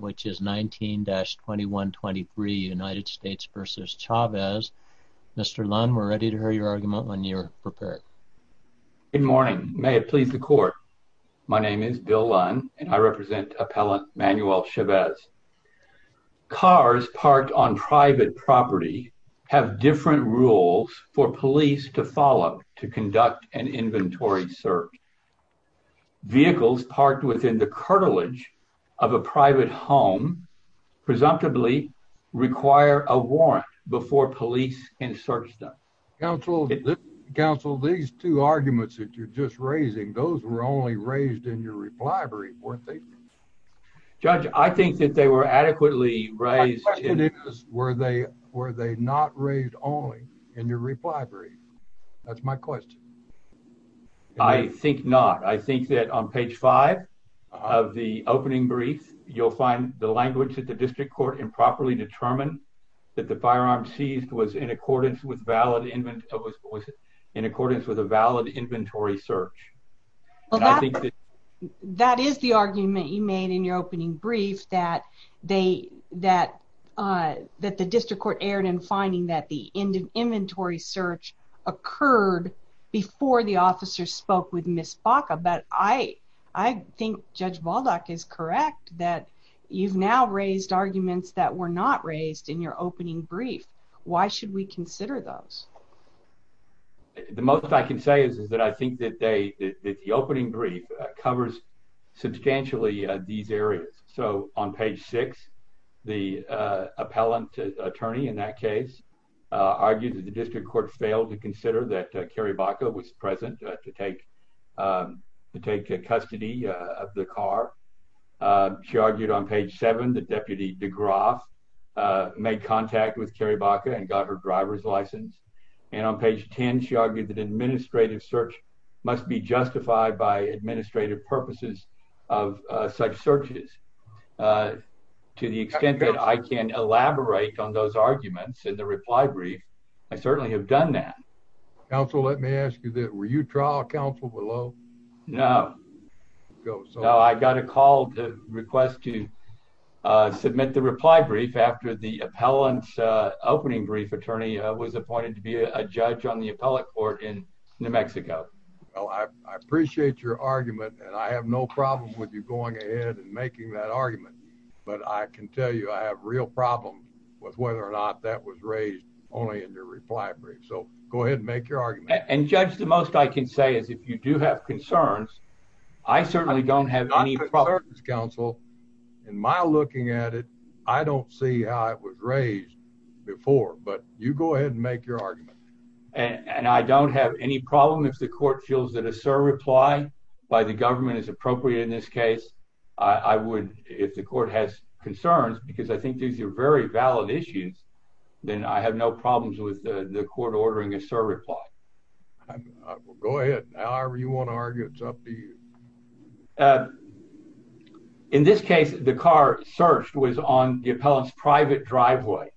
which is 19-2123 United States v. Chavez. Mr. Lund, we're ready to hear your argument when you're prepared. Good morning, may it please the court. My name is Bill Lund and I represent appellant Manuel Chavez. Cars parked on private property have different rules for police to follow to presumptively require a warrant before police can search them. Counsel, these two arguments that you're just raising, those were only raised in your reply brief, weren't they? Judge, I think that they were adequately raised. My question is were they not raised only in your reply brief? That's my question. I think not. I think that on page five of the opening brief you'll find the language that the district court improperly determined that the firearm seized was in accordance with a valid inventory search. That is the argument you made in your opening brief that the district court erred in finding that the inventory search occurred before the officer spoke with Ms. Baca, but I think Judge Baldock is correct that you've now raised arguments that were not raised in your opening brief. Why should we consider those? The most I can say is that I think that they, that the opening brief covers substantially these areas. So on page six, the appellant attorney in that case argued that the district court failed to consider that Kerry Baca was in custody of the car. She argued on page seven that Deputy DeGroff made contact with Kerry Baca and got her driver's license. And on page 10, she argued that administrative search must be justified by administrative purposes of such searches. To the extent that I can elaborate on those arguments in the reply brief, I certainly have done that. Counsel, let me ask you, were you trial counsel below? No. No, I got a call to request to submit the reply brief after the appellant's opening brief attorney was appointed to be a judge on the appellate court in New Mexico. Well, I appreciate your argument and I have no problem with you going ahead and making that argument, but I can tell you I have real problems with whether or not that was raised only in your reply brief. So go ahead and make your argument. And judge, the most I can say is if you do have concerns, I certainly don't have any problems. Counsel, in my looking at it, I don't see how it was raised before, but you go ahead and make your argument. And I don't have any problem if the court feels that a sir reply by the government is appropriate in this case. I would, if the court has concerns, because I think these are very valid issues, then I have no problems with the court ordering a sir reply. Go ahead. However you want to argue, it's up to you. In this case, the car searched was on the appellant's private driveway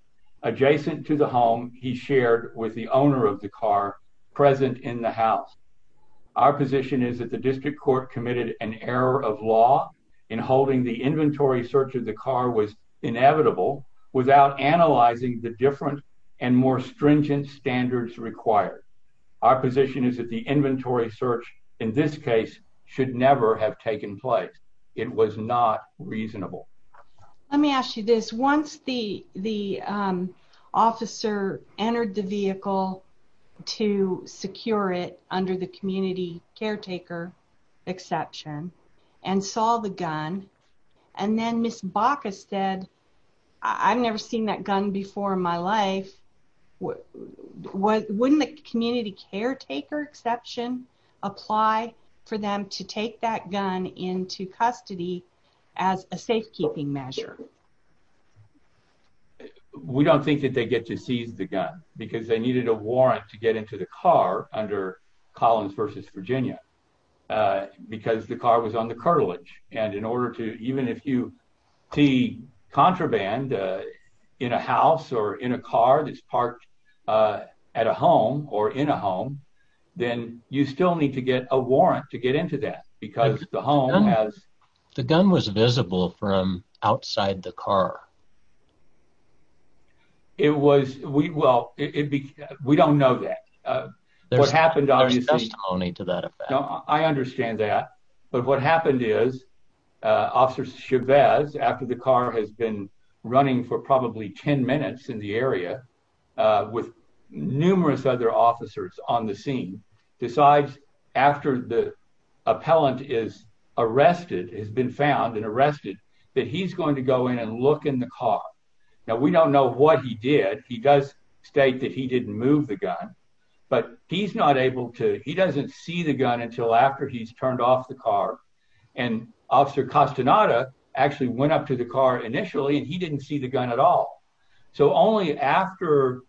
adjacent to the home he shared with the owner of the car present in the house. Our position is that the district court committed an error of law in holding the inventory search of the car was inevitable without analyzing the different and more stringent standards required. Our position is that the inventory search in this case should never have taken place. It was not reasonable. Let me ask you this. Once the officer entered the vehicle to secure it under the community caretaker exception and saw the gun, and then Ms. Baca said, I've never seen that gun before in my life, wouldn't the community caretaker exception apply for them to take that gun into custody as a safekeeping measure? We don't think that they get to seize the gun, because they needed a warrant to get into the car under Collins versus Virginia, because the car was on the cartilage. And in order to, even if you see contraband in a house or in a car that's parked at a home or in a home, then you still need to get a warrant to get into that, because the home has... The gun was visible from outside the car. It was... Well, we don't know that. There's testimony to that effect. I understand that. But what happened is Officer Chavez, after the car has been running for probably 10 minutes in the area with numerous other officers on the scene, decides after the appellant is arrested, has been found and arrested, that he's going to go in and look in the car. Now, we don't know what he did. He does state that he didn't move the gun, but he's not able to... He doesn't see the gun until after he's turned off the car. And Officer Castaneda actually went up to the car initially, and he didn't see the gun at all. So only after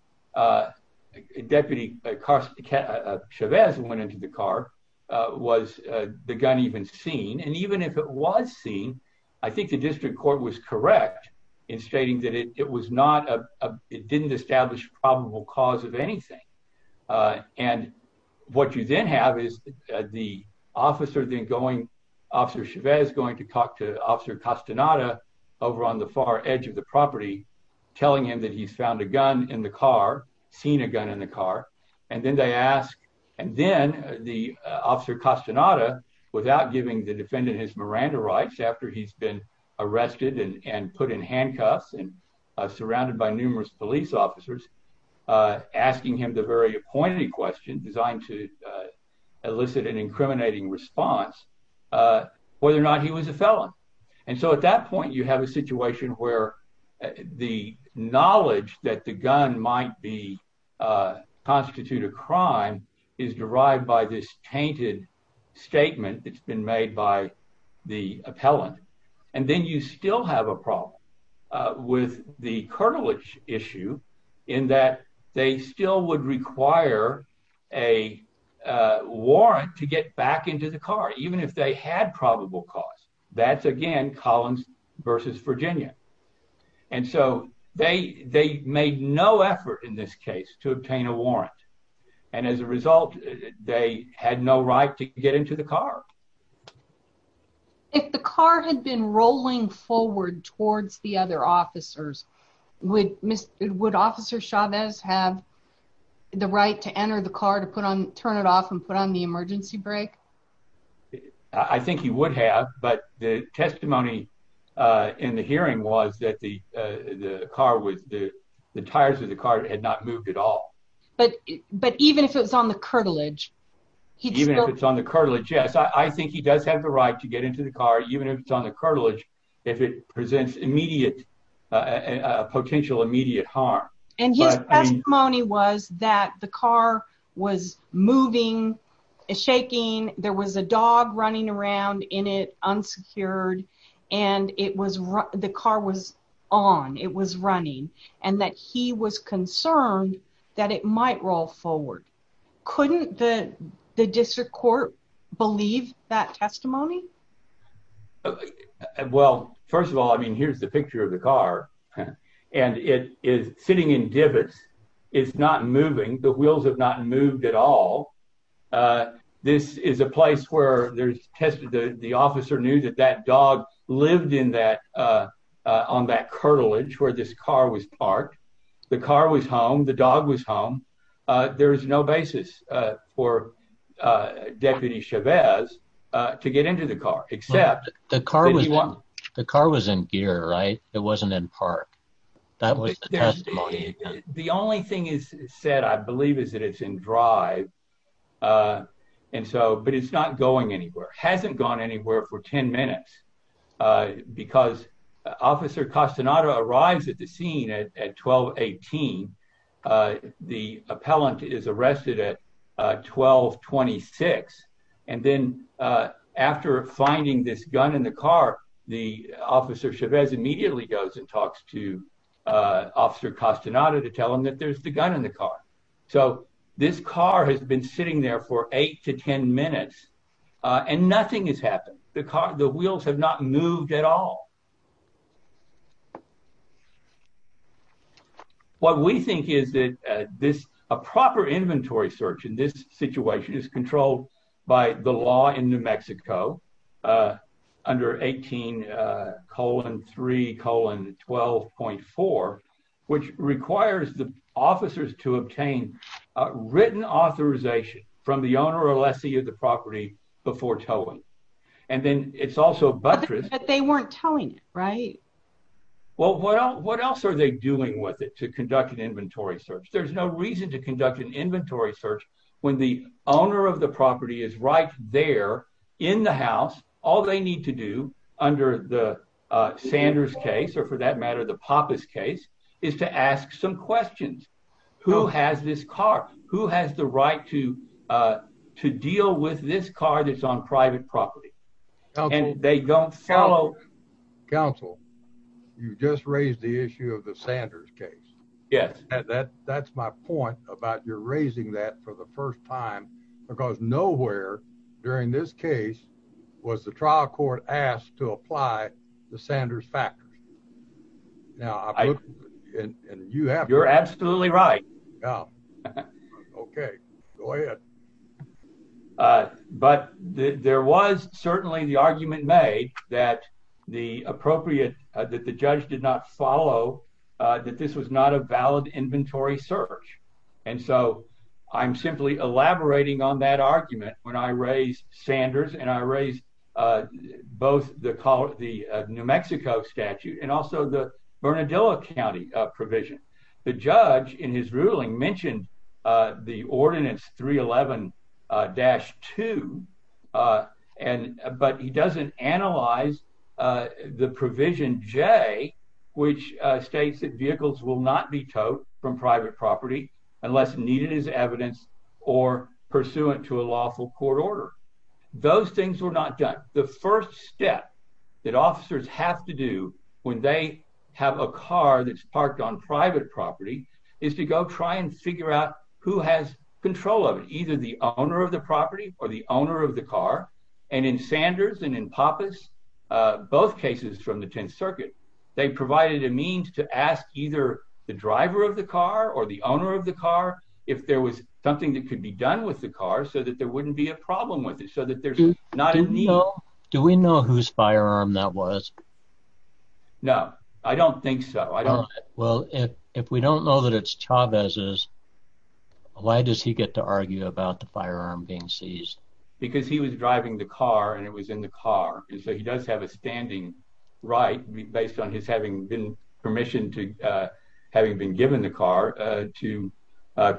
Deputy Chavez went into the car was the gun even seen. And even if it was seen, I think the district court was correct in stating that it was not... It didn't establish probable cause of anything. And what you then have is the officer then going... Officer Chavez going to talk to Officer Castaneda over on the far edge of the property, telling him that he's found a gun in the car, seen a gun in the car. And then they ask... And then the Officer Castaneda, without giving the defendant his Miranda rights after he's been arrested and put in handcuffs and surrounded by numerous police officers, asking him the very appointed question designed to elicit an incriminating response, whether or not he was a felon. And so at that point, you have a situation where the knowledge that the gun might constitute a crime is derived by this tainted statement that's been made by the appellant. And then you still have a problem with the cartilage issue in that they still would require a warrant to get back into the car, even if they had probable cause. That's, again, Collins versus Virginia. And so they made no effort in this case to obtain a warrant. And as a result, they had no right to get into the car. If the car had been rolling forward towards the other officers, would Officer Chavez have the right to enter the car to put on... Turn it off and put on the emergency brake? I think he would have, but the testimony in the hearing was that the tires of the car had not moved at all. But even if it was on the cartilage? Even if it's on the cartilage, yes. I think he does have the right to get into the car, even if it's on the cartilage, if it presents a potential immediate harm. And his testimony was that the car was moving, shaking, there was a dog running around in it, unsecured, and the car was on, it was running, and that he was concerned that it might roll forward. Couldn't the district court believe that testimony? Well, first of all, I mean, here's the picture of the car. And it is sitting in divots. It's not moving. The wheels have not moved at all. This is a place where there's... The officer knew that that dog lived in that, on that cartilage where this car was parked. The car was home, the dog was home. There is no basis for Deputy Chavez to get into the car, except... The car was in gear, right? It wasn't in park. That was the testimony. The only thing is said, I believe, is that it's in drive. And so, but it's not going anywhere, hasn't gone anywhere for 10 minutes. Because Officer Castaneda arrives at the scene at 12.18. The appellant is arrested at 12.26. And then after finding this gun in the car, the officer Chavez immediately goes and talks to Officer Castaneda to tell him that there's the gun in the car. So this car has been sitting there for 8 to 10 minutes and nothing has happened. The wheels have not moved at all. What we think is that this, a proper inventory search in this situation is controlled by the law in New Mexico under 18 colon 3 colon 12.4, which requires the officers to obtain written authorization from the owner or lessee of the property before towing. And then it's also buttressed... But they weren't towing it, right? Well, what else are they doing with it to conduct an inventory search? There's no reason to conduct an inventory search when the owner of the property is right there in the house. All they need to do under the Sanders case, or for that matter, the Pappas case, is to ask some questions. Who has this car? Who has the right to deal with this car that's on private property? And they don't follow... Counsel, you just raised the issue of the Sanders case. Yes. That's my point about you're raising that for the first time because nowhere during this case was the trial court asked to now... And you have... You're absolutely right. Yeah. Okay. Go ahead. But there was certainly the argument made that the appropriate, that the judge did not follow that this was not a valid inventory search. And so I'm simply elaborating on that argument when I raise both the New Mexico statute and also the Bernardillo County provision. The judge in his ruling mentioned the ordinance 311-2, but he doesn't analyze the provision J, which states that vehicles will not be towed from private property unless needed as evidence or pursuant to a lawful court order. Those things were not done. The first step that officers have to do when they have a car that's parked on private property is to go try and figure out who has control of it, either the owner of the property or the owner of the car. And in Sanders and in Pappas, both cases from the Tenth Circuit, they provided a means to ask either the driver of the car or owner of the car if there was something that could be done with the car so that there wouldn't be a problem with it, so that there's not a need... Do we know whose firearm that was? No, I don't think so. I don't... Well, if we don't know that it's Chavez's, why does he get to argue about the firearm being seized? Because he was driving the car and it was in the car. And so he does have a standing right based on his having been permissioned to...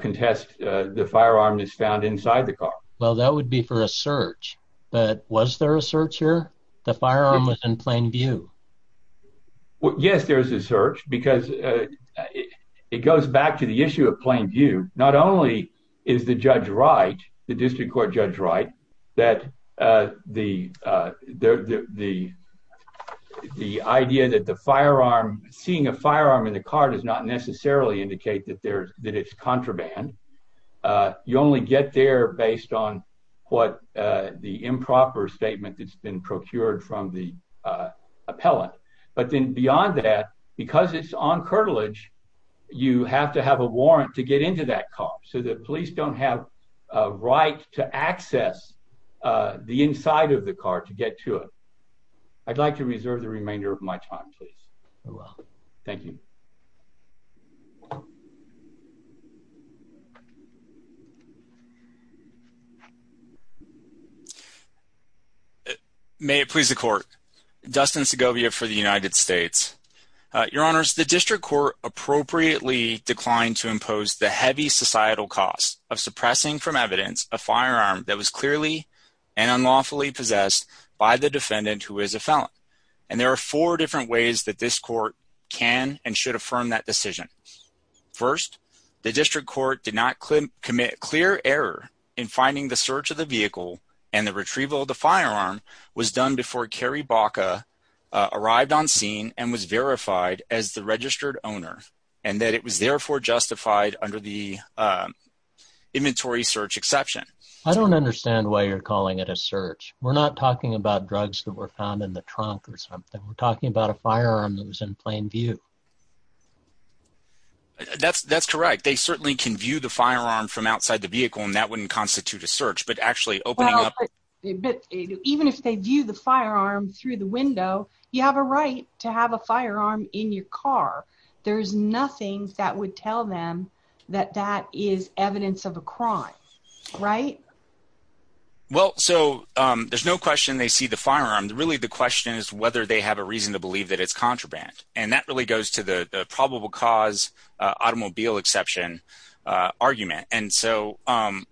contest the firearm that's found inside the car. Well, that would be for a search. But was there a search here? The firearm was in plain view. Yes, there's a search because it goes back to the issue of plain view. Not only is the judge right, the district court judge right, that the the idea that the firearm, seeing a firearm in the car does not necessarily indicate that there's that it's contraband. You only get there based on what the improper statement that's been procured from the appellant. But then beyond that, because it's on curtilage, you have to have a warrant to get to it. I'd like to reserve the remainder of my time, please. Thank you. May it please the court. Dustin Segovia for the United States. Your Honors, the district court appropriately declined to impose the heavy societal cost of suppressing from evidence a by the defendant who is a felon. And there are four different ways that this court can and should affirm that decision. First, the district court did not commit clear error in finding the search of the vehicle and the retrieval of the firearm was done before Kerry Baca arrived on scene and was verified as the registered owner, and that it was therefore justified under the inventory search exception. I don't understand why you're calling it a search. We're not talking about drugs that were found in the trunk or something. We're talking about a firearm that was in plain view. That's that's correct. They certainly can view the firearm from outside the vehicle and that wouldn't constitute a search. But actually opening up, even if they view the firearm through the window, you have a right to have a firearm in your car. There's no question they see the firearm. Really, the question is whether they have a reason to believe that it's contraband. And that really goes to the probable cause automobile exception argument. And so,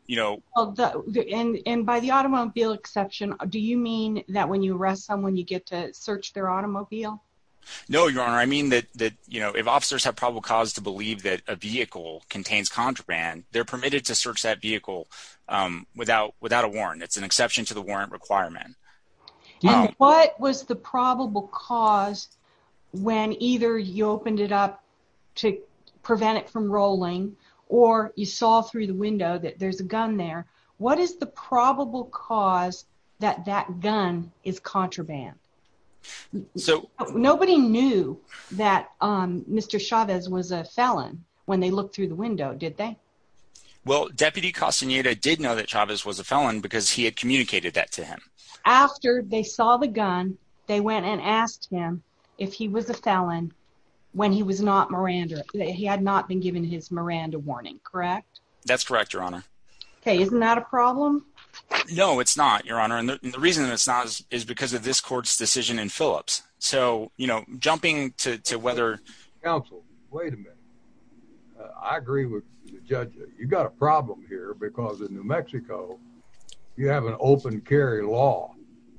you know, and by the automobile exception, do you mean that when you arrest someone, you get to search their automobile? No, Your Honor. I mean that, you know, if officers have probable cause to believe that a vehicle contains contraband, they're permitted to search that without a warrant. It's an exception to the warrant requirement. What was the probable cause when either you opened it up to prevent it from rolling or you saw through the window that there's a gun there? What is the probable cause that that gun is contraband? So nobody knew that Mr. Chavez was a felon when they looked through the window, did they? Well, Deputy Castaneda did know that Chavez was a felon because he had communicated that to him. After they saw the gun, they went and asked him if he was a felon when he was not Miranda. He had not been given his Miranda warning, correct? That's correct, Your Honor. Okay. Isn't that a problem? No, it's not, Your Honor. And the reason that it's not is because of this court's decision in Phillips. So, you know, jumping to whether- you've got a problem here because in New Mexico, you have an open carry law.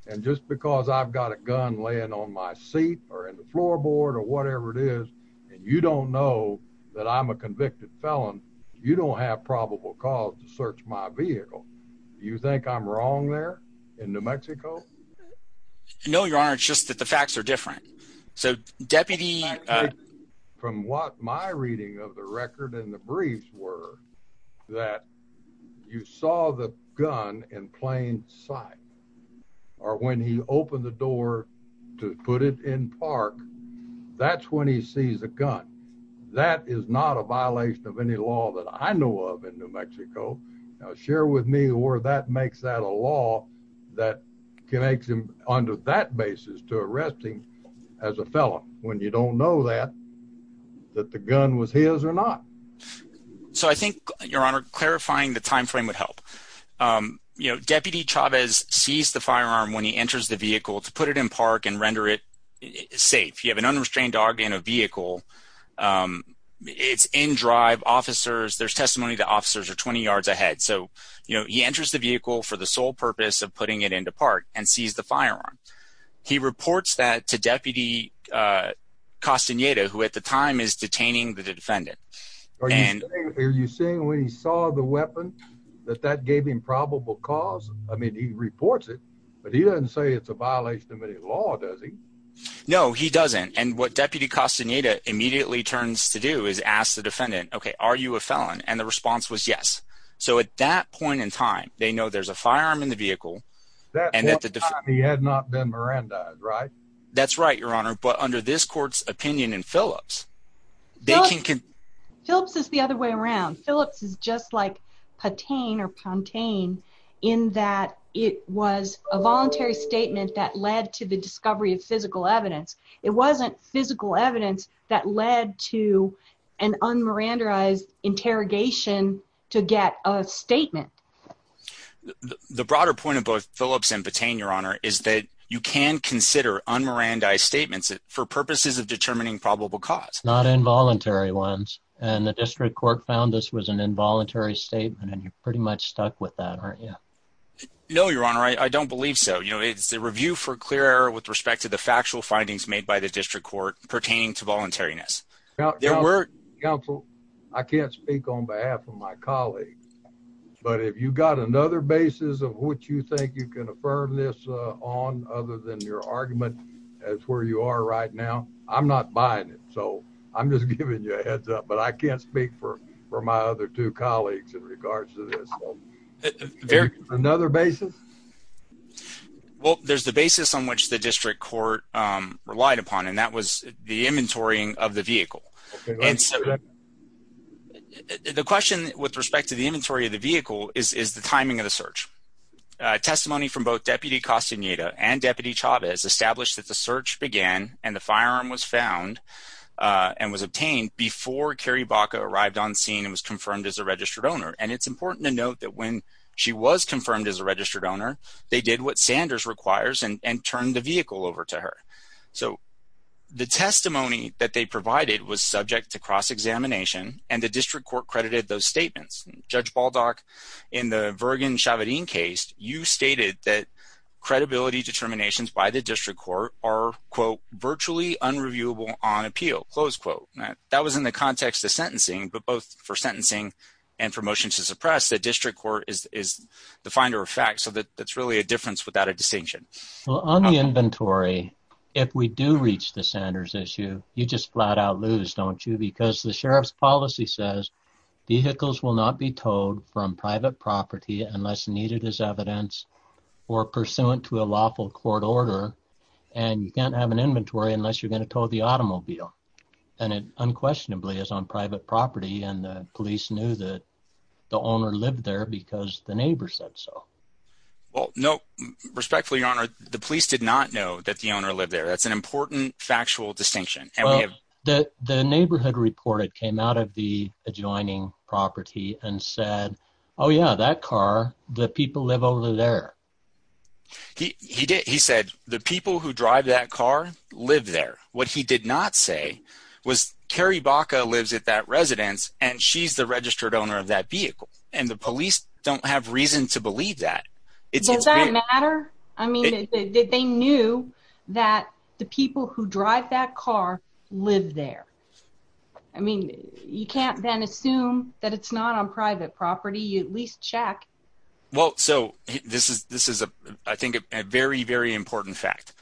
And just because I've got a gun laying on my seat or in the floorboard or whatever it is, and you don't know that I'm a convicted felon, you don't have probable cause to search my vehicle. You think I'm wrong there in New Mexico? No, Your Honor. It's just that the facts are different. So, Deputy- from what my reading of the record and the briefs were that you saw the gun in plain sight or when he opened the door to put it in park, that's when he sees a gun. That is not a violation of any law that I know of in New Mexico. Now, share with me where that makes that a law that connects him under that basis to arresting as a felon when you don't know that, that the gun was his or not. So, I think, Your Honor, clarifying the time frame would help. You know, Deputy Chavez sees the firearm when he enters the vehicle to put it in park and render it safe. You have an unrestrained dog in a vehicle. It's in drive. Officers- there's testimony that officers are 20 yards ahead. So, you know, he enters the vehicle for the sole purpose of putting it into park and sees the firearm. He reports that to Deputy Castaneda, who at the time is detaining the defendant. Are you saying when he saw the weapon that that gave him probable cause? I mean, he reports it, but he doesn't say it's a violation of any law, does he? No, he doesn't. And what Deputy Castaneda immediately turns to do is ask the defendant, okay, are you a felon? And the firearm in the vehicle- That's the only time he had not been mirandized, right? That's right, Your Honor, but under this court's opinion in Phillips, they can- Phillips is the other way around. Phillips is just like Patain or Pontain in that it was a voluntary statement that led to the discovery of physical evidence. It wasn't physical evidence that led to an unmirandarized interrogation to get a statement. The broader point of both Phillips and Patain, Your Honor, is that you can consider unmirandized statements for purposes of determining probable cause. Not involuntary ones, and the district court found this was an involuntary statement and you're pretty much stuck with that, aren't you? No, Your Honor, I don't believe so. You know, it's the review for clear error with respect to the factual findings made by the district court pertaining to my colleague, but if you got another basis of what you think you can affirm this on other than your argument as where you are right now, I'm not buying it, so I'm just giving you a heads up, but I can't speak for my other two colleagues in regards to this. Another basis? Well, there's the basis on which the district court relied upon, and that was the inventorying of the vehicle. The question with respect to the inventory of the vehicle is the timing of the search. Testimony from both Deputy Castaneda and Deputy Chavez established that the search began and the firearm was found and was obtained before Carrie Baca arrived on scene and was confirmed as a registered owner. And it's important to note that when she was confirmed as a registered owner, they did what Sanders requires and turned the vehicle over to So the testimony that they provided was subject to cross-examination and the district court credited those statements. Judge Baldock, in the Vergen-Chavadin case, you stated that credibility determinations by the district court are, quote, virtually unreviewable on appeal, close quote. That was in the context of sentencing, but both for sentencing and for motion to suppress, the district court is the finder of fact, so that's really a difference without a distinction. Well, on the inventory, if we do reach the Sanders issue, you just flat out lose, don't you? Because the sheriff's policy says vehicles will not be towed from private property unless needed as evidence or pursuant to a lawful court order, and you can't have an inventory unless you're going to tow the automobile. And it unquestionably is on private property, and the police knew that owner lived there because the neighbor said so. Well, no, respectfully, your honor, the police did not know that the owner lived there. That's an important factual distinction. Well, the neighborhood reported came out of the adjoining property and said, oh yeah, that car, the people live over there. He did. He said the people who drive that car live there. What he did not say was Carrie Baca lives at that residence, and she's the registered owner of that vehicle, and the police don't have reason to believe that. Does that matter? I mean, they knew that the people who drive that car live there. I mean, you can't then assume that it's not on private property. You at least check. Well, so this is, I think, a very, very important fact.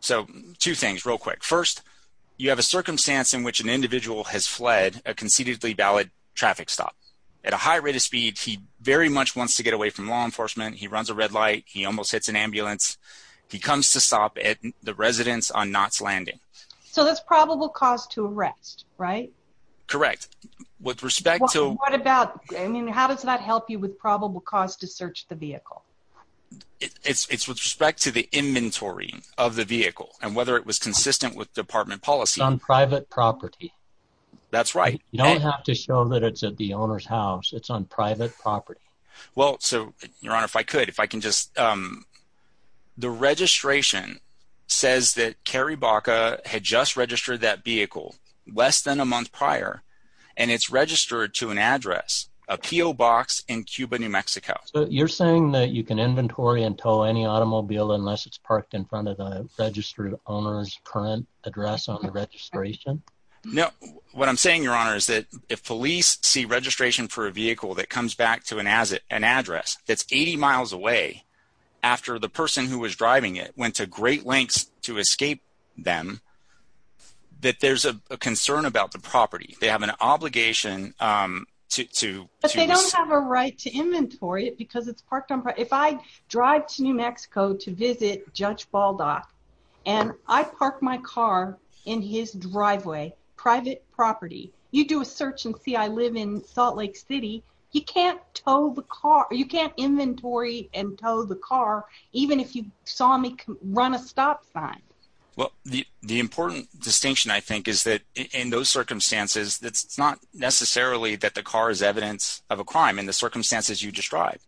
So two things real quick. First, you have a circumstance in which an individual has fled a concededly valid traffic stop. At a high rate of speed, he very much wants to get away from law enforcement. He runs a red light. He almost hits an ambulance. He comes to stop at the residence on Knott's Landing. So that's probable cause to arrest, right? Correct. What about, I mean, how does that help you with probable cause to search the vehicle? It's with respect to the inventory of the vehicle and whether it was consistent with department policy. It's on private property. That's right. You don't have to show that it's at the owner's house. It's on private property. Well, so, your honor, if I could, if I can just, the registration says that Carrie Baca had just registered that vehicle less than a month prior, and it's registered to an address, a P.O. Box in Cuba, New Mexico. So you're saying that you can inventory and tow any automobile unless it's parked in front of the registered owner's current address on the registration? No. What I'm saying, your honor, is that if police see registration for a vehicle that comes back to an address that's 80 miles away after the person who was driving it went to great lengths to escape them, that there's a problem. If I drive to New Mexico to visit Judge Baldock and I park my car in his driveway, private property, you do a search and see I live in Salt Lake City, you can't inventory and tow the car even if you saw me run a stop sign. Well, the important distinction, I think, is that in those circumstances, it's not necessarily that the car is evidence of a crime. In the circumstances, you describe.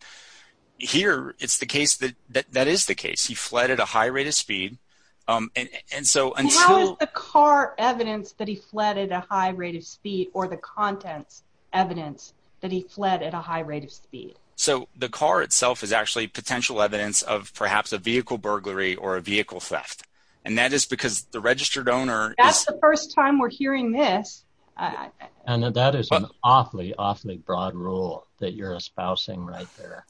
Here, it's the case that that is the case. He fled at a high rate of speed. How is the car evidence that he fled at a high rate of speed or the contents evidence that he fled at a high rate of speed? So the car itself is actually potential evidence of perhaps a vehicle burglary or a vehicle theft, and that is because the registered owner... That's the first time right there.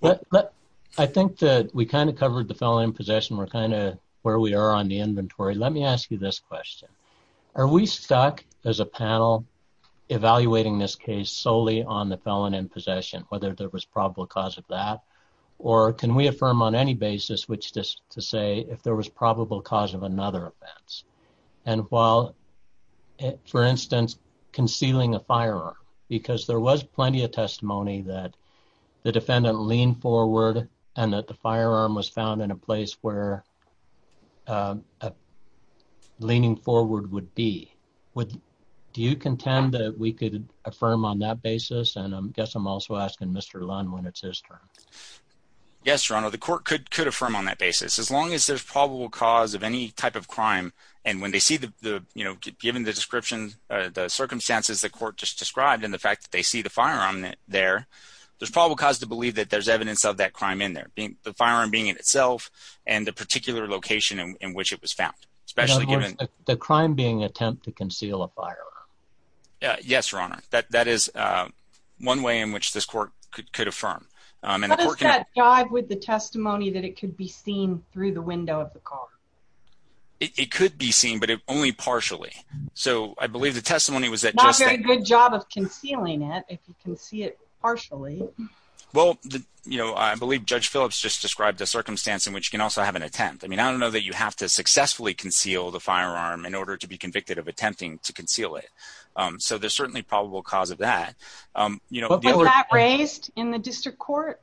But I think that we kind of covered the felon in possession. We're kind of where we are on the inventory. Let me ask you this question. Are we stuck as a panel evaluating this case solely on the felon in possession, whether there was probable cause of that, or can we affirm on any basis which to say if there was probable cause of another offense? And while, for instance, concealing a firearm, because there was plenty of testimony that the defendant leaned forward and that the firearm was found in a place where leaning forward would be. Do you contend that we could affirm on that basis? And I guess I'm also asking Mr. Lunn when it's his turn. Yes, Your Honor. The court could affirm on that basis. As long as there's probable cause of any type of crime, and when they see, given the description, the circumstances the court just described, and the fact that they see the firearm there, there's probable cause to believe that there's evidence of that crime in there. The firearm being in itself and the particular location in which it was found, especially given... The crime being attempt to conceal a firearm. Yes, Your Honor. That is one way in which this through the window of the car. It could be seen, but only partially. So I believe the testimony was that... Not very good job of concealing it, if you can see it partially. Well, you know, I believe Judge Phillips just described a circumstance in which you can also have an attempt. I mean, I don't know that you have to successfully conceal the firearm in order to be convicted of attempting to conceal it. So there's certainly probable cause of that. Was that raised in the district court?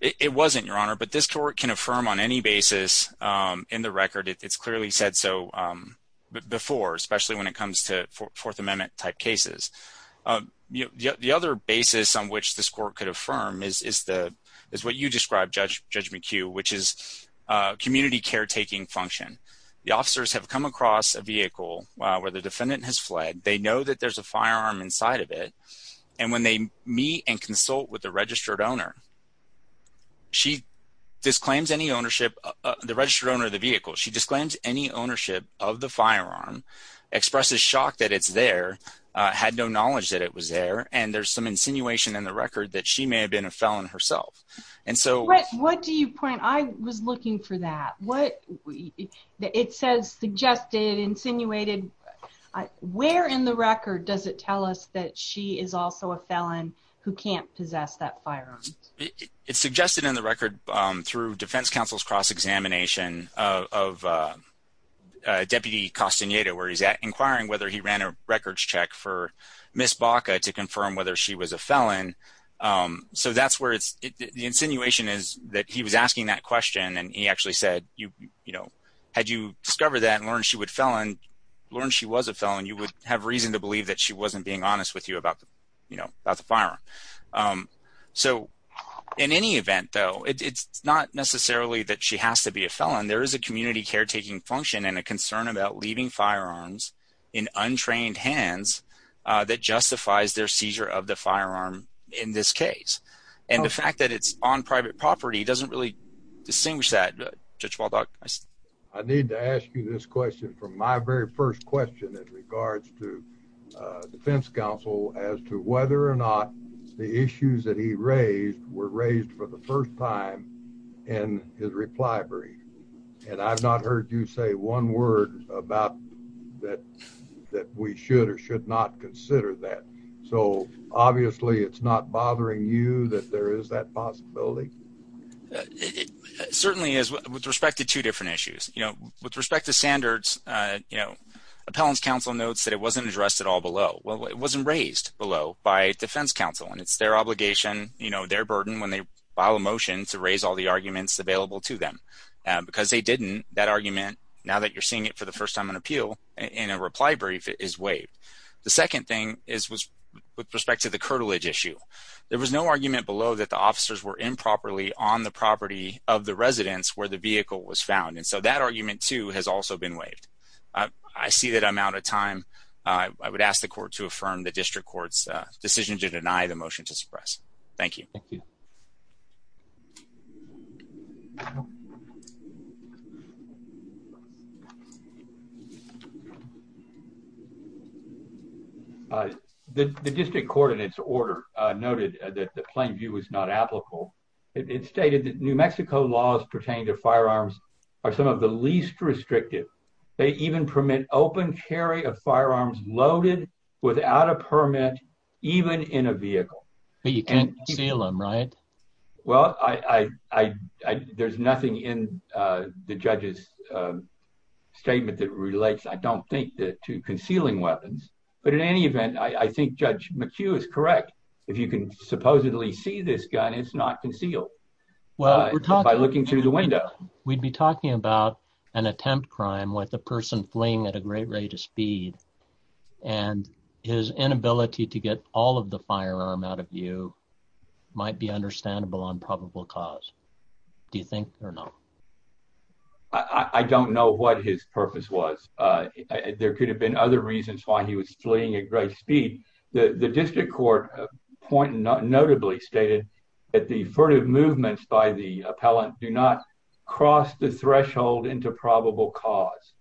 It wasn't, Your Honor, but this court can affirm on any basis in the record. It's clearly said so before, especially when it comes to Fourth Amendment type cases. The other basis on which this court could affirm is what you described, Judge McHugh, which is community caretaking function. The officers have come across a vehicle where the defendant has fled. They know that there's a firearm inside of it. And when they meet and consult with the she disclaims any ownership, the registered owner of the vehicle, she disclaims any ownership of the firearm, expresses shock that it's there, had no knowledge that it was there, and there's some insinuation in the record that she may have been a felon herself. And so... What do you point? I was looking for that. What... It says suggested, insinuated. Where in the record does it tell us that she is also a felon who can't possess that firearm? It's suggested in the record through defense counsel's cross-examination of Deputy Castaneda, where he's inquiring whether he ran a records check for Miss Baca to confirm whether she was a felon. So that's where it's... The insinuation is that he was asking that question and he actually said, you know, had you discovered that and learned she was a felon, you would have reason to believe that she wasn't being honest with you about the, you know, about the firearm. So in any event though, it's not necessarily that she has to be a felon. There is a community caretaking function and a concern about leaving firearms in untrained hands that justifies their seizure of the firearm in this case. And the fact that it's on private property doesn't really distinguish that. Judge Waldock? I need to ask you this question from my very first question in regards to defense counsel as to whether or not the issues that he raised were raised for the first time in his reply brief. And I've not heard you say one word about that we should or should not consider that. So obviously it's not bothering you that there is that possibility? It certainly is with respect to two different issues. You know, with respect to standards, you know, appellant's counsel notes that it wasn't addressed at all below. Well, it wasn't raised below by defense counsel and it's their obligation, you know, their burden when they file a motion to raise all the arguments available to them. Because they didn't, that argument, now that you're seeing it for the first time on appeal in a reply brief, is waived. The second thing is with respect to the curtilage issue. There was no argument below that the officers were improperly on the property of the residence where the vehicle was found. And so that argument, too, has also been waived. I see that I'm out of time. I would ask the court to affirm the district court's decision to deny the motion to suppress. Thank you. The district court in its order noted that the plain view was not applicable. It stated that Mexico laws pertaining to firearms are some of the least restrictive. They even permit open carry of firearms loaded without a permit, even in a vehicle. But you can't conceal them, right? Well, there's nothing in the judge's statement that relates, I don't think, to concealing weapons. But in any event, I think Judge McHugh is correct. If you can supposedly see this gun, it's not concealed by looking through the window. We'd be talking about an attempt crime with a person fleeing at a great rate of speed, and his inability to get all of the firearm out of view might be understandable on probable cause. Do you think or not? I don't know what his purpose was. There could have been other reasons why he was fleeing at great speed. The district court notably stated that the furtive movements by the appellant do not cross the threshold into probable cause.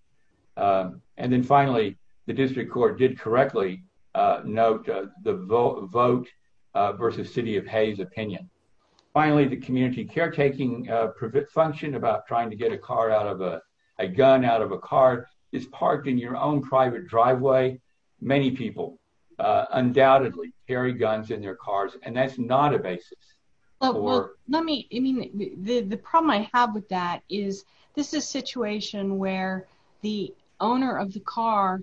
And then finally, the district court did correctly note the vote versus City of Hays' opinion. Finally, the community caretaking function about trying to get a gun out of a car is parked in your own private driveway. Many people undoubtedly carry guns in their cars, and that's not a basis. The problem I have with that is, this is a situation where the owner of the car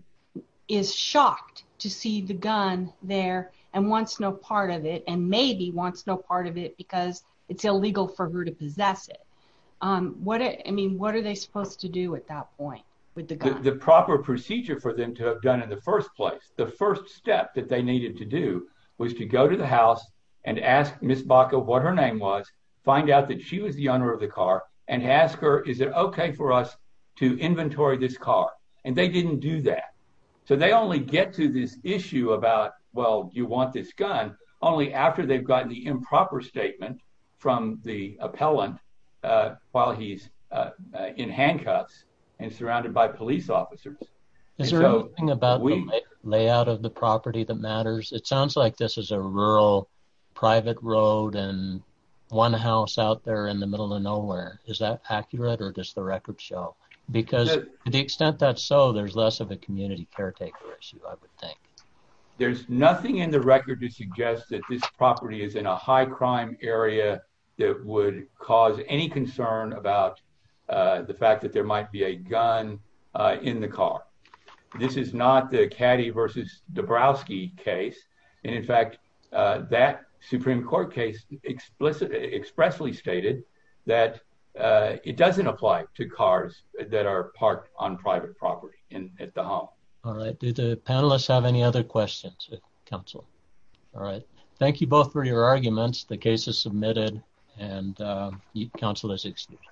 is shocked to see the gun there and wants no part of it, and maybe wants no part of it because it's illegal for her to possess it. What are they supposed to do at that point with the gun? The proper procedure for them to have done in the first place, the first step that they needed to do, was to go to the house and ask Ms. Baca what her name was, find out that she was the owner of the car, and ask her, is it okay for us to inventory this car? And they didn't do that. So they only get to this issue about, well, do you want this gun, only after they've gotten the improper statement from the appellant while he's in handcuffs and surrounded by police officers. Is there anything about the layout of the property that matters? It sounds like this is a rural, private road and one house out there in the middle of nowhere. Is that accurate or does the record show? Because to the extent that's so, there's less of a community caretaker issue, I would think. There's nothing in the record to suggest that this property is in a high crime area that would cause any concern about the fact that there might be a gun in the car. This is not the Caddy versus Dabrowski case. And in fact, that Supreme Court case explicitly, expressly stated that it doesn't apply to cars that are parked on private property at the home. All right. Do the panelists have any other questions of counsel? All right. Thank you both for your time. The hearing is now adjourned. The case is submitted and counsel is excused.